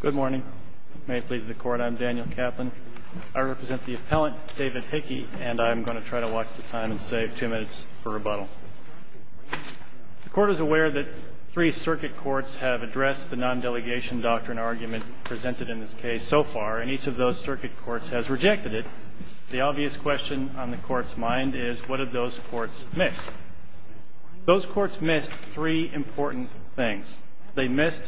Good morning. May it please the court, I'm Daniel Kaplan. I represent the appellant, David Hickey, and I'm going to try to watch the time and save two minutes for rebuttal. The court is aware that three circuit courts have addressed the non-delegation doctrine argument presented in this case so far, and each of those circuit courts has rejected it. The obvious question on the court's mind is, what did those courts miss? Those courts missed three important things. They missed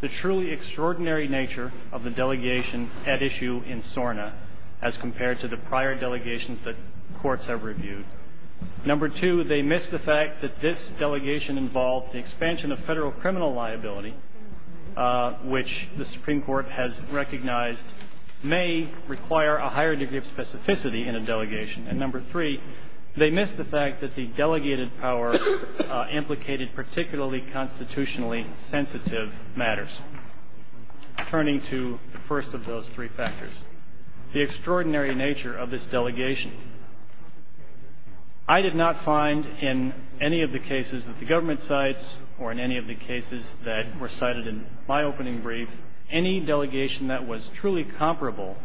the truly extraordinary nature of the delegation at issue in SORNA as compared to the prior delegations that courts have reviewed. Number two, they missed the fact that this delegation involved the expansion of federal criminal liability, which the Supreme Court has recognized may require a higher degree of specificity in a delegation. And number three, they missed the fact that the delegated power implicated particularly constitutionally sensitive matters. Turning to the first of those three factors, the extraordinary nature of this delegation. I did not find in any of the cases that the government cites or in any of the cases that were cited in my opening brief any delegation that was truly comparable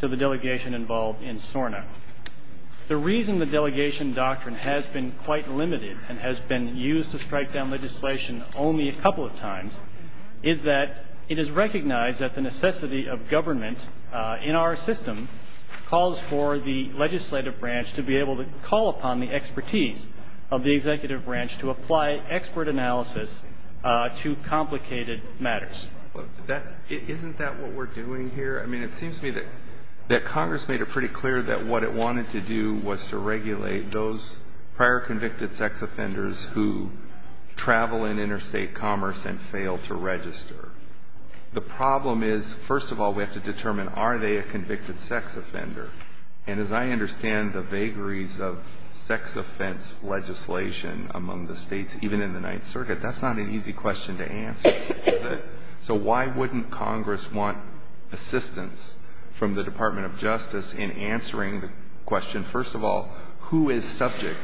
to the delegation involved in SORNA. The reason the delegation doctrine has been quite limited and has been used to strike down legislation only a couple of times is that it is recognized that the necessity of government in our system calls for the legislative branch to be able to call upon the expertise of the executive branch to apply expert analysis to complicated matters. Isn't that what we're doing here? I mean, it seems to me that Congress made it pretty clear that what it wanted to do was to regulate those prior convicted sex offenders who travel in interstate commerce and fail to register. The problem is, first of all, we have to determine, are they a convicted sex offender? And as I understand the vagaries of sex offense legislation among the states, even in the Ninth Circuit, that's not an easy question to answer. So why wouldn't Congress want assistance from the Department of Justice in answering the question, first of all, who is subject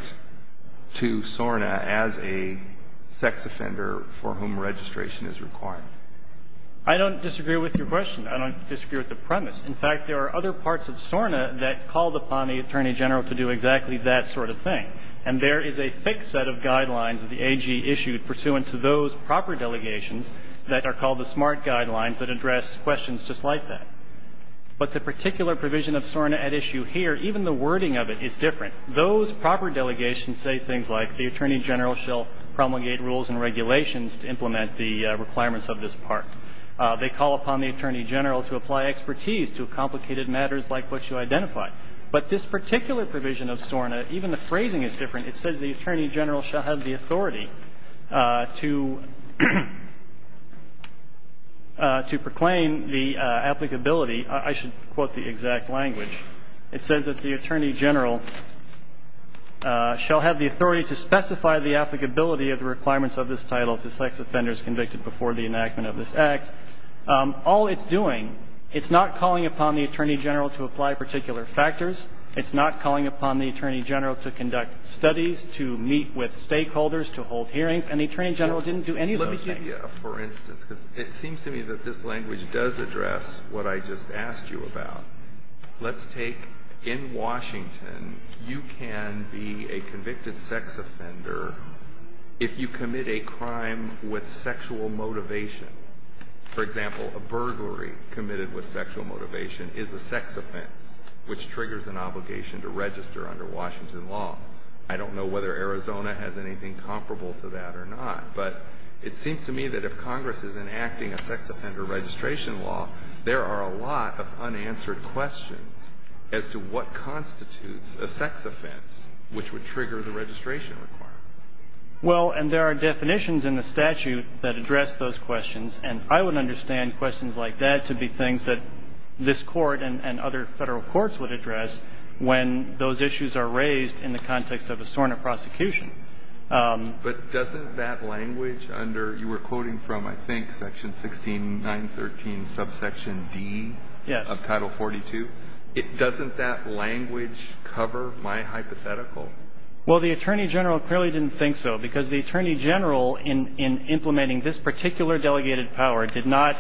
to SORNA as a sex offender for whom registration is required? I don't disagree with your question. I don't disagree with the premise. In fact, there are other parts of SORNA that called upon the Attorney General to do exactly that sort of thing. And there is a thick set of guidelines that the AG issued pursuant to those proper delegations that are called the SMART guidelines that address questions just like that. But the particular provision of SORNA at issue here, even the wording of it is different. Those proper delegations say things like the Attorney General shall promulgate rules and regulations to implement the requirements of this part. They call upon the Attorney General to apply expertise to complicated matters like what you identified. But this particular provision of SORNA, even the phrasing is different. It says the Attorney General shall have the authority to proclaim the applicability. I should quote the exact language. It says that the Attorney General shall have the authority to specify the applicability of the requirements of this title to sex offenders convicted before the enactment of this Act. All it's doing, it's not calling upon the Attorney General to apply particular factors. It's not calling upon the Attorney General to conduct studies, to meet with stakeholders, to hold hearings. And the Attorney General didn't do any of those things. It seems to me that this language does address what I just asked you about. Let's take, in Washington, you can be a convicted sex offender if you commit a crime with sexual motivation. For example, a burglary committed with sexual motivation is a sex offense, which triggers an obligation to register under Washington law. I don't know whether Arizona has anything comparable to that or not. But it seems to me that if Congress is enacting a sex offender registration law, there are a lot of unanswered questions as to what constitutes a sex offense which would trigger the registration requirement. Well, and there are definitions in the statute that address those questions. And I would understand questions like that to be things that this Court and other federal courts would address when those issues are raised in the context of a SORNA prosecution. But doesn't that language under you were quoting from, I think, section 16, 913, subsection D of Title 42? Yes. Doesn't that language cover my hypothetical? Well, the Attorney General clearly didn't think so, because the Attorney General in implementing this particular delegated power did not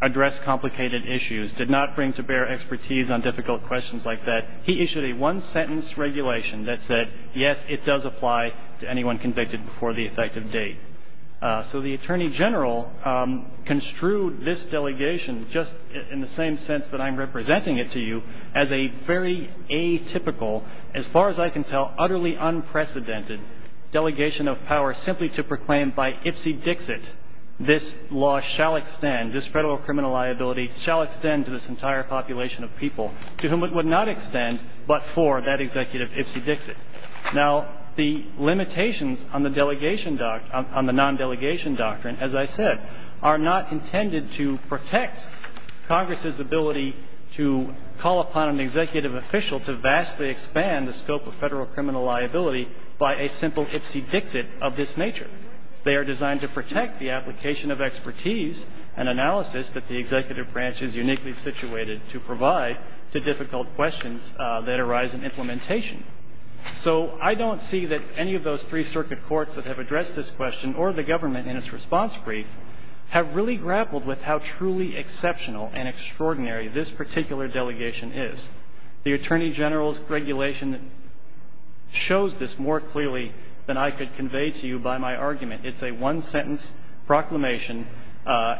address complicated issues, did not bring to bear expertise on difficult questions like that. He issued a one-sentence regulation that said, yes, it does apply to anyone convicted before the effective date. So the Attorney General construed this delegation, just in the same sense that I'm representing it to you, as a very atypical, as far as I can tell, utterly unprecedented delegation of power simply to proclaim by ipsy dixit, this law shall extend, this federal criminal liability shall extend to this entire population of people to whom it would not extend but for that executive ipsy dixit. Now, the limitations on the delegation doctrine, on the nondelegation doctrine, as I said, are not intended to protect Congress's ability to call upon an executive official to vastly expand the scope of federal criminal liability by a simple ipsy dixit of this nature. They are designed to protect the application of expertise and analysis that the executive branch is uniquely situated to provide to difficult questions that arise in implementation. So I don't see that any of those three circuit courts that have addressed this question or the government in its response brief have really grappled with how truly exceptional and extraordinary this particular delegation is. The Attorney General's regulation shows this more clearly than I could convey to you by my argument. It's a one-sentence proclamation.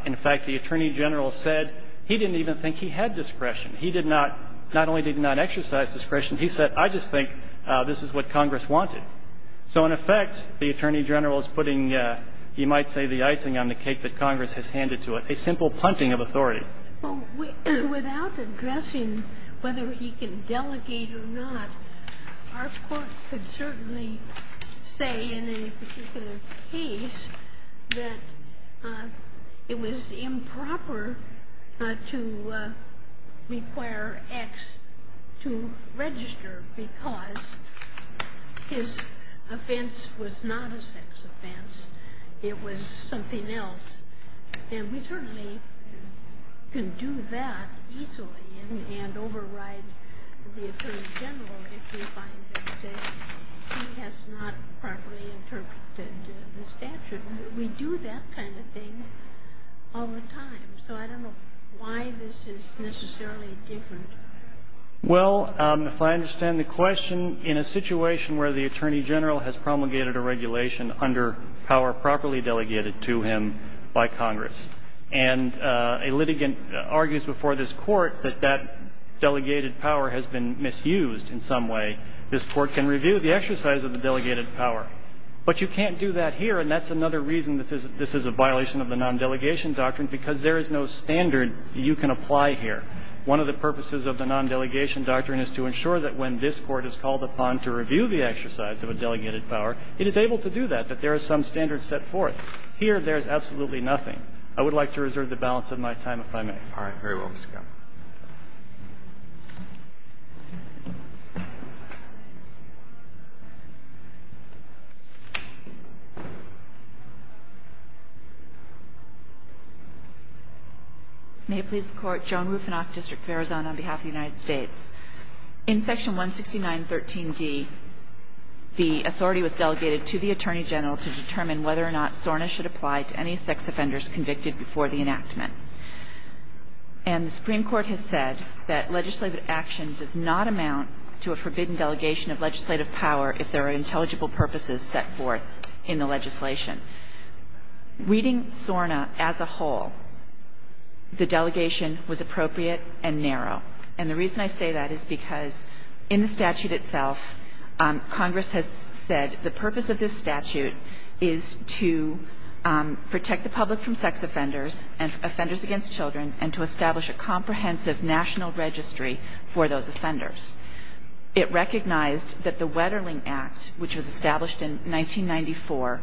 In fact, the Attorney General said he didn't even think he had discretion. He did not – not only did he not exercise discretion, he said, I just think this is what Congress wanted. So in effect, the Attorney General is putting, you might say, the icing on the cake that Congress has handed to it, a simple punting of authority. Without addressing whether he can delegate or not, our court could certainly say in any particular case that it was improper to require X to register because his offense was not a sex offense. It was something else. And we certainly can do that easily and override the Attorney General if we find that he has not properly interpreted the statute. We do that kind of thing all the time. So I don't know why this is necessarily different. Well, if I understand the question, in a situation where the Attorney General has promulgated a regulation under power to him by Congress and a litigant argues before this Court that that delegated power has been misused in some way, this Court can review the exercise of the delegated power. But you can't do that here, and that's another reason this is a violation of the nondelegation doctrine, because there is no standard you can apply here. One of the purposes of the nondelegation doctrine is to ensure that when this Court is called upon to review the exercise of a delegated power, it is able to do that, that there is some standard set forth. Here, there is absolutely nothing. I would like to reserve the balance of my time, if I may. All right. Very well. Ms. Gell. May it please the Court. Joan Rufenach, District of Arizona, on behalf of the United States. In Section 169.13d, the authority was delegated to the Attorney General to determine whether or not SORNA should apply to any sex offenders convicted before the enactment. And the Supreme Court has said that legislative action does not amount to a forbidden delegation of legislative power if there are intelligible purposes set forth in the legislation. Reading SORNA as a whole, the delegation was appropriate and narrow. And the reason I say that is because in the statute itself, Congress has said the purpose of this statute is to protect the public from sex offenders and offenders against children and to establish a comprehensive national registry for those offenders. It recognized that the Wetterling Act, which was established in 1994,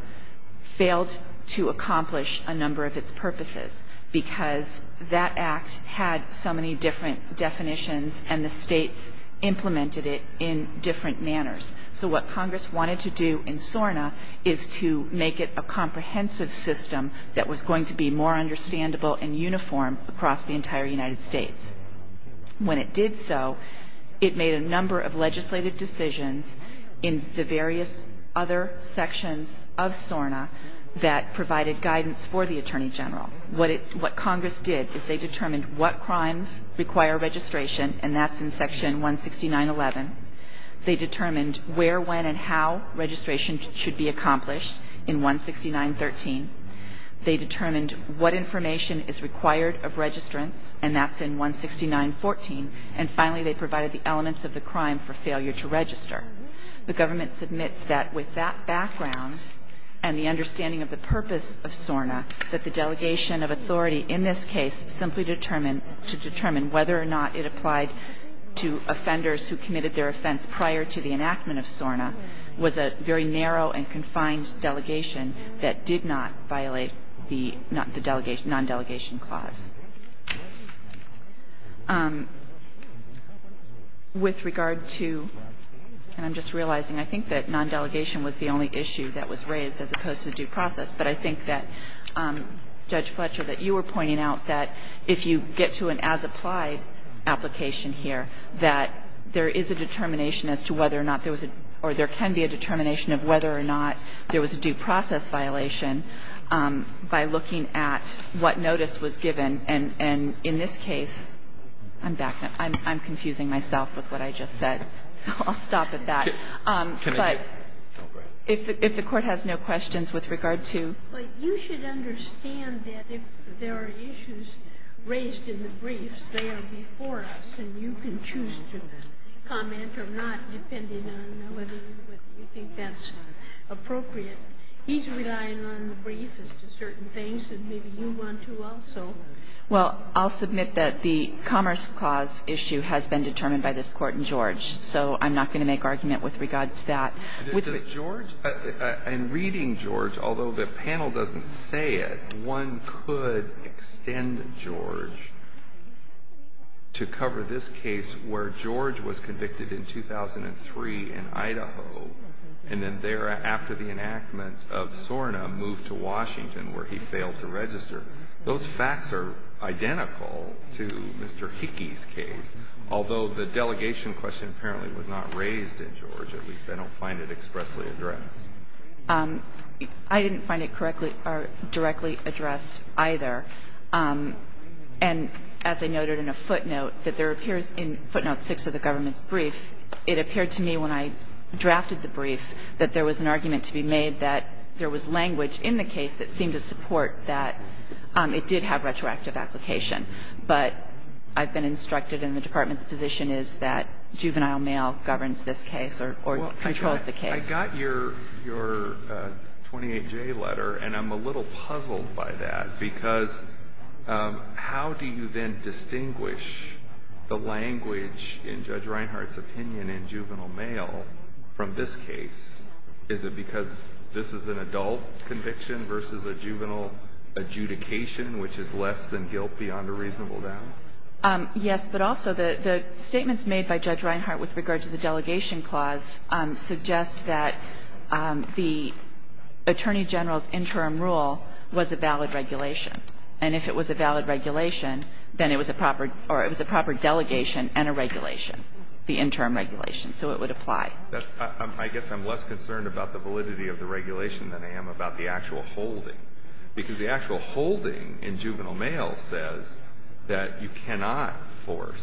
failed to accomplish a number of its purposes because that act had so many different definitions and the states implemented it in different manners. So what Congress wanted to do in SORNA is to make it a comprehensive system that was going to be more understandable and uniform across the entire United States. When it did so, it made a number of legislative decisions in the various other sections of SORNA that provided guidance for the Attorney General. What Congress did is they determined what crimes require registration, and that's in section 169.11. They determined where, when, and how registration should be accomplished in 169.13. They determined what information is required of registrants, and that's in 169.14. And finally, they provided the elements of the crime for failure to register. The government submits that with that background and the understanding of the purpose of SORNA, that the delegation of authority in this case simply determined to determine whether or not it applied to offenders who committed their offense prior to the enactment of SORNA was a very narrow and confined delegation that did not violate the non-delegation clause. With regard to, and I'm just realizing, I think that non-delegation was the only issue that was raised as opposed to due process, but I think that, Judge Fletcher, that you were pointing out that if you get to an as-applied application here, that there is a determination as to whether or not there was a, or there can be a determination of whether or not there was a due process violation by looking at what notice was given, and in this case, I'm back, I'm confusing myself with what I just said. So I'll stop at that. But if the Court has no questions with regard to. Ginsburg. But you should understand that if there are issues raised in the briefs, they are before us, and you can choose to comment or not, depending on whether you think that's appropriate. He's relying on the brief as to certain things, and maybe you want to also. Well, I'll submit that the Commerce Clause issue has been determined by this Court in George. So I'm not going to make argument with regard to that. With the George, in reading George, although the panel doesn't say it, one could extend George to cover this case where George was convicted in 2003 in Idaho, and then thereafter the enactment of SORNA moved to Washington where he failed to register. Those facts are identical to Mr. Hickey's case, although the delegation question apparently was not raised in George. At least I don't find it expressly addressed. I didn't find it correctly or directly addressed either. And as I noted in a footnote, that there appears in footnote 6 of the government's brief, it appeared to me when I drafted the brief that there was an argument to be made that there was language in the case that seemed to support that it did have retroactive application. But I've been instructed, and the Department's position is that juvenile mail governs this case or controls the case. I got your 28J letter, and I'm a little puzzled by that because how do you then distinguish the language in Judge Reinhart's opinion in juvenile mail from this case? Is it because this is an adult conviction versus a juvenile adjudication, which is less than guilt beyond a reasonable doubt? Yes, but also the statements made by Judge Reinhart with regard to the delegation clause suggest that the Attorney General's interim rule was a valid regulation. And if it was a valid regulation, then it was a proper delegation and a regulation, the interim regulation. So it would apply. I guess I'm less concerned about the validity of the regulation than I am about the actual holding, because the actual holding in juvenile mail says that you cannot force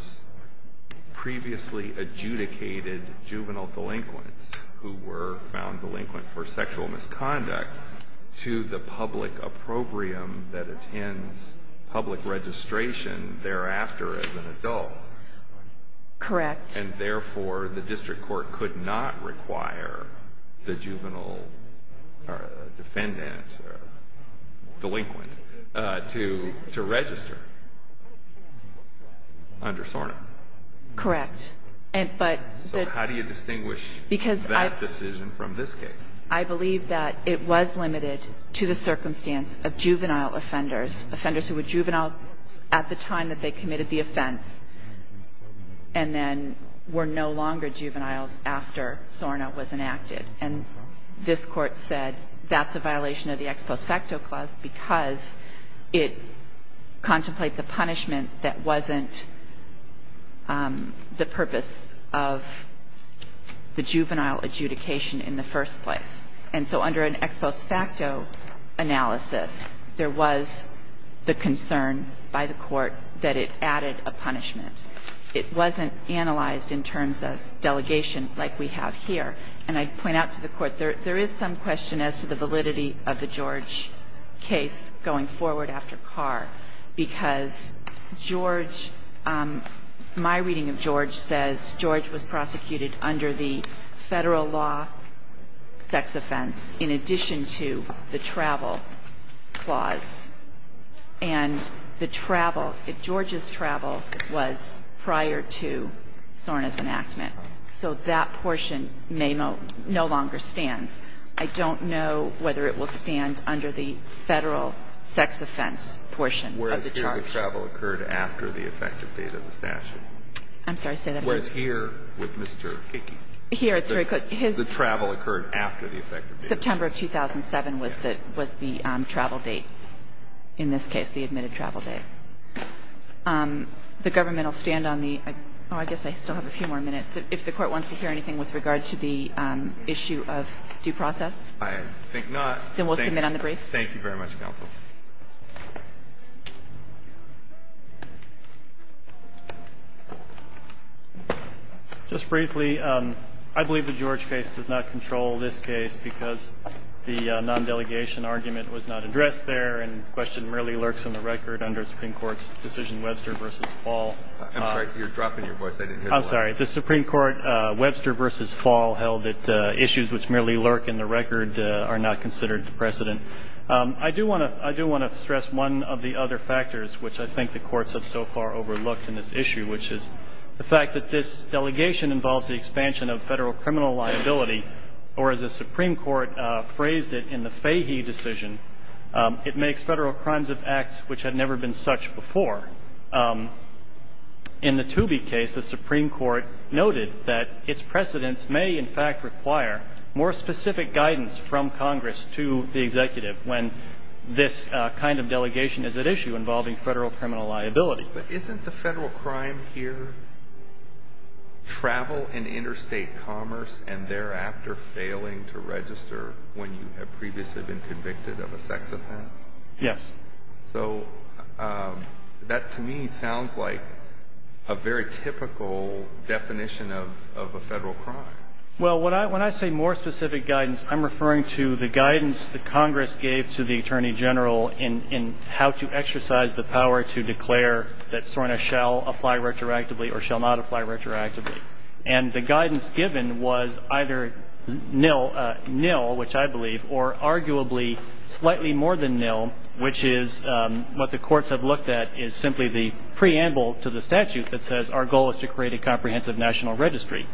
previously adjudicated juvenile delinquents who were found delinquent for sexual misconduct to the public opprobrium that attends public registration thereafter as an adult. Correct. And therefore, the district court could not require the juvenile defendant, delinquent, to register under SORNA. Correct. But the — So how do you distinguish that decision from this case? I believe that it was limited to the circumstance of juvenile offenders, offenders who were juveniles at the time that they committed the offense and then were no longer juveniles after SORNA was enacted. And this Court said that's a violation of the ex post facto clause because it contemplates a punishment that wasn't the purpose of the juvenile adjudication in the first place. And so under an ex post facto analysis, there was the concern by the Court that it added a punishment. It wasn't analyzed in terms of delegation like we have here. And I point out to the Court, there is some question as to the validity of the George case going forward after Carr, because George — my reading of George says George was prosecuted under the Federal law sex offense in addition to the travel clause. And the travel, George's travel was prior to SORNA's enactment. So that portion may no — no longer stands. I don't know whether it will stand under the Federal sex offense portion of the charge. Whereas here the travel occurred after the effective date of the statute. I'm sorry. Say that again. Whereas here with Mr. Hickey. Here it's very close. His — The travel occurred after the effective date. September of 2007 was the — was the travel date, in this case, the admitted travel date. The government will stand on the — oh, I guess I still have a few more minutes. If the Court wants to hear anything with regard to the issue of due process. I think not. Then we'll submit on the brief. Thank you very much, Counsel. Just briefly, I believe the George case does not control this case because the non-delegation argument was not addressed there and the question merely lurks in the record under the Supreme Court's decision Webster v. Paul. I'm sorry. You're dropping your voice. I'm sorry. The Supreme Court Webster v. Paul held that issues which merely lurk in the record are not considered precedent. I do want to — I do want to stress one of the other factors which I think the courts have so far overlooked in this issue, which is the fact that this delegation involves the expansion of Federal criminal liability, or as the Supreme Court phrased it in the Fahy decision, it makes Federal crimes of acts which had never been such before. In the Toobie case, the Supreme Court noted that its precedents may in fact require more specific guidance from Congress to the executive when this kind of delegation is at issue involving Federal criminal liability. But isn't the Federal crime here travel and interstate commerce and thereafter failing to register when you have previously been convicted of a sex offense? Yes. So that to me sounds like a very typical definition of a Federal crime. Well, when I say more specific guidance, I'm referring to the guidance that Congress gave to the Attorney General in how to exercise the power to declare that SORNA shall apply retroactively or shall not apply retroactively. And the guidance given was either nil, which I believe, or arguably slightly more than what the courts have looked at is simply the preamble to the statute that says our goal is to create a comprehensive national registry.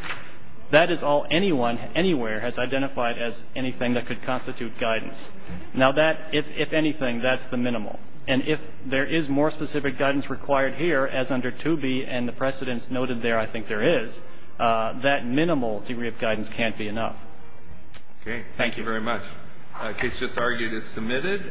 That is all anyone anywhere has identified as anything that could constitute guidance. Now that, if anything, that's the minimal. And if there is more specific guidance required here, as under Toobie and the precedents noted there, I think there is, that minimal degree of guidance can't be enough. Okay. Thank you very much. The case just argued is submitted.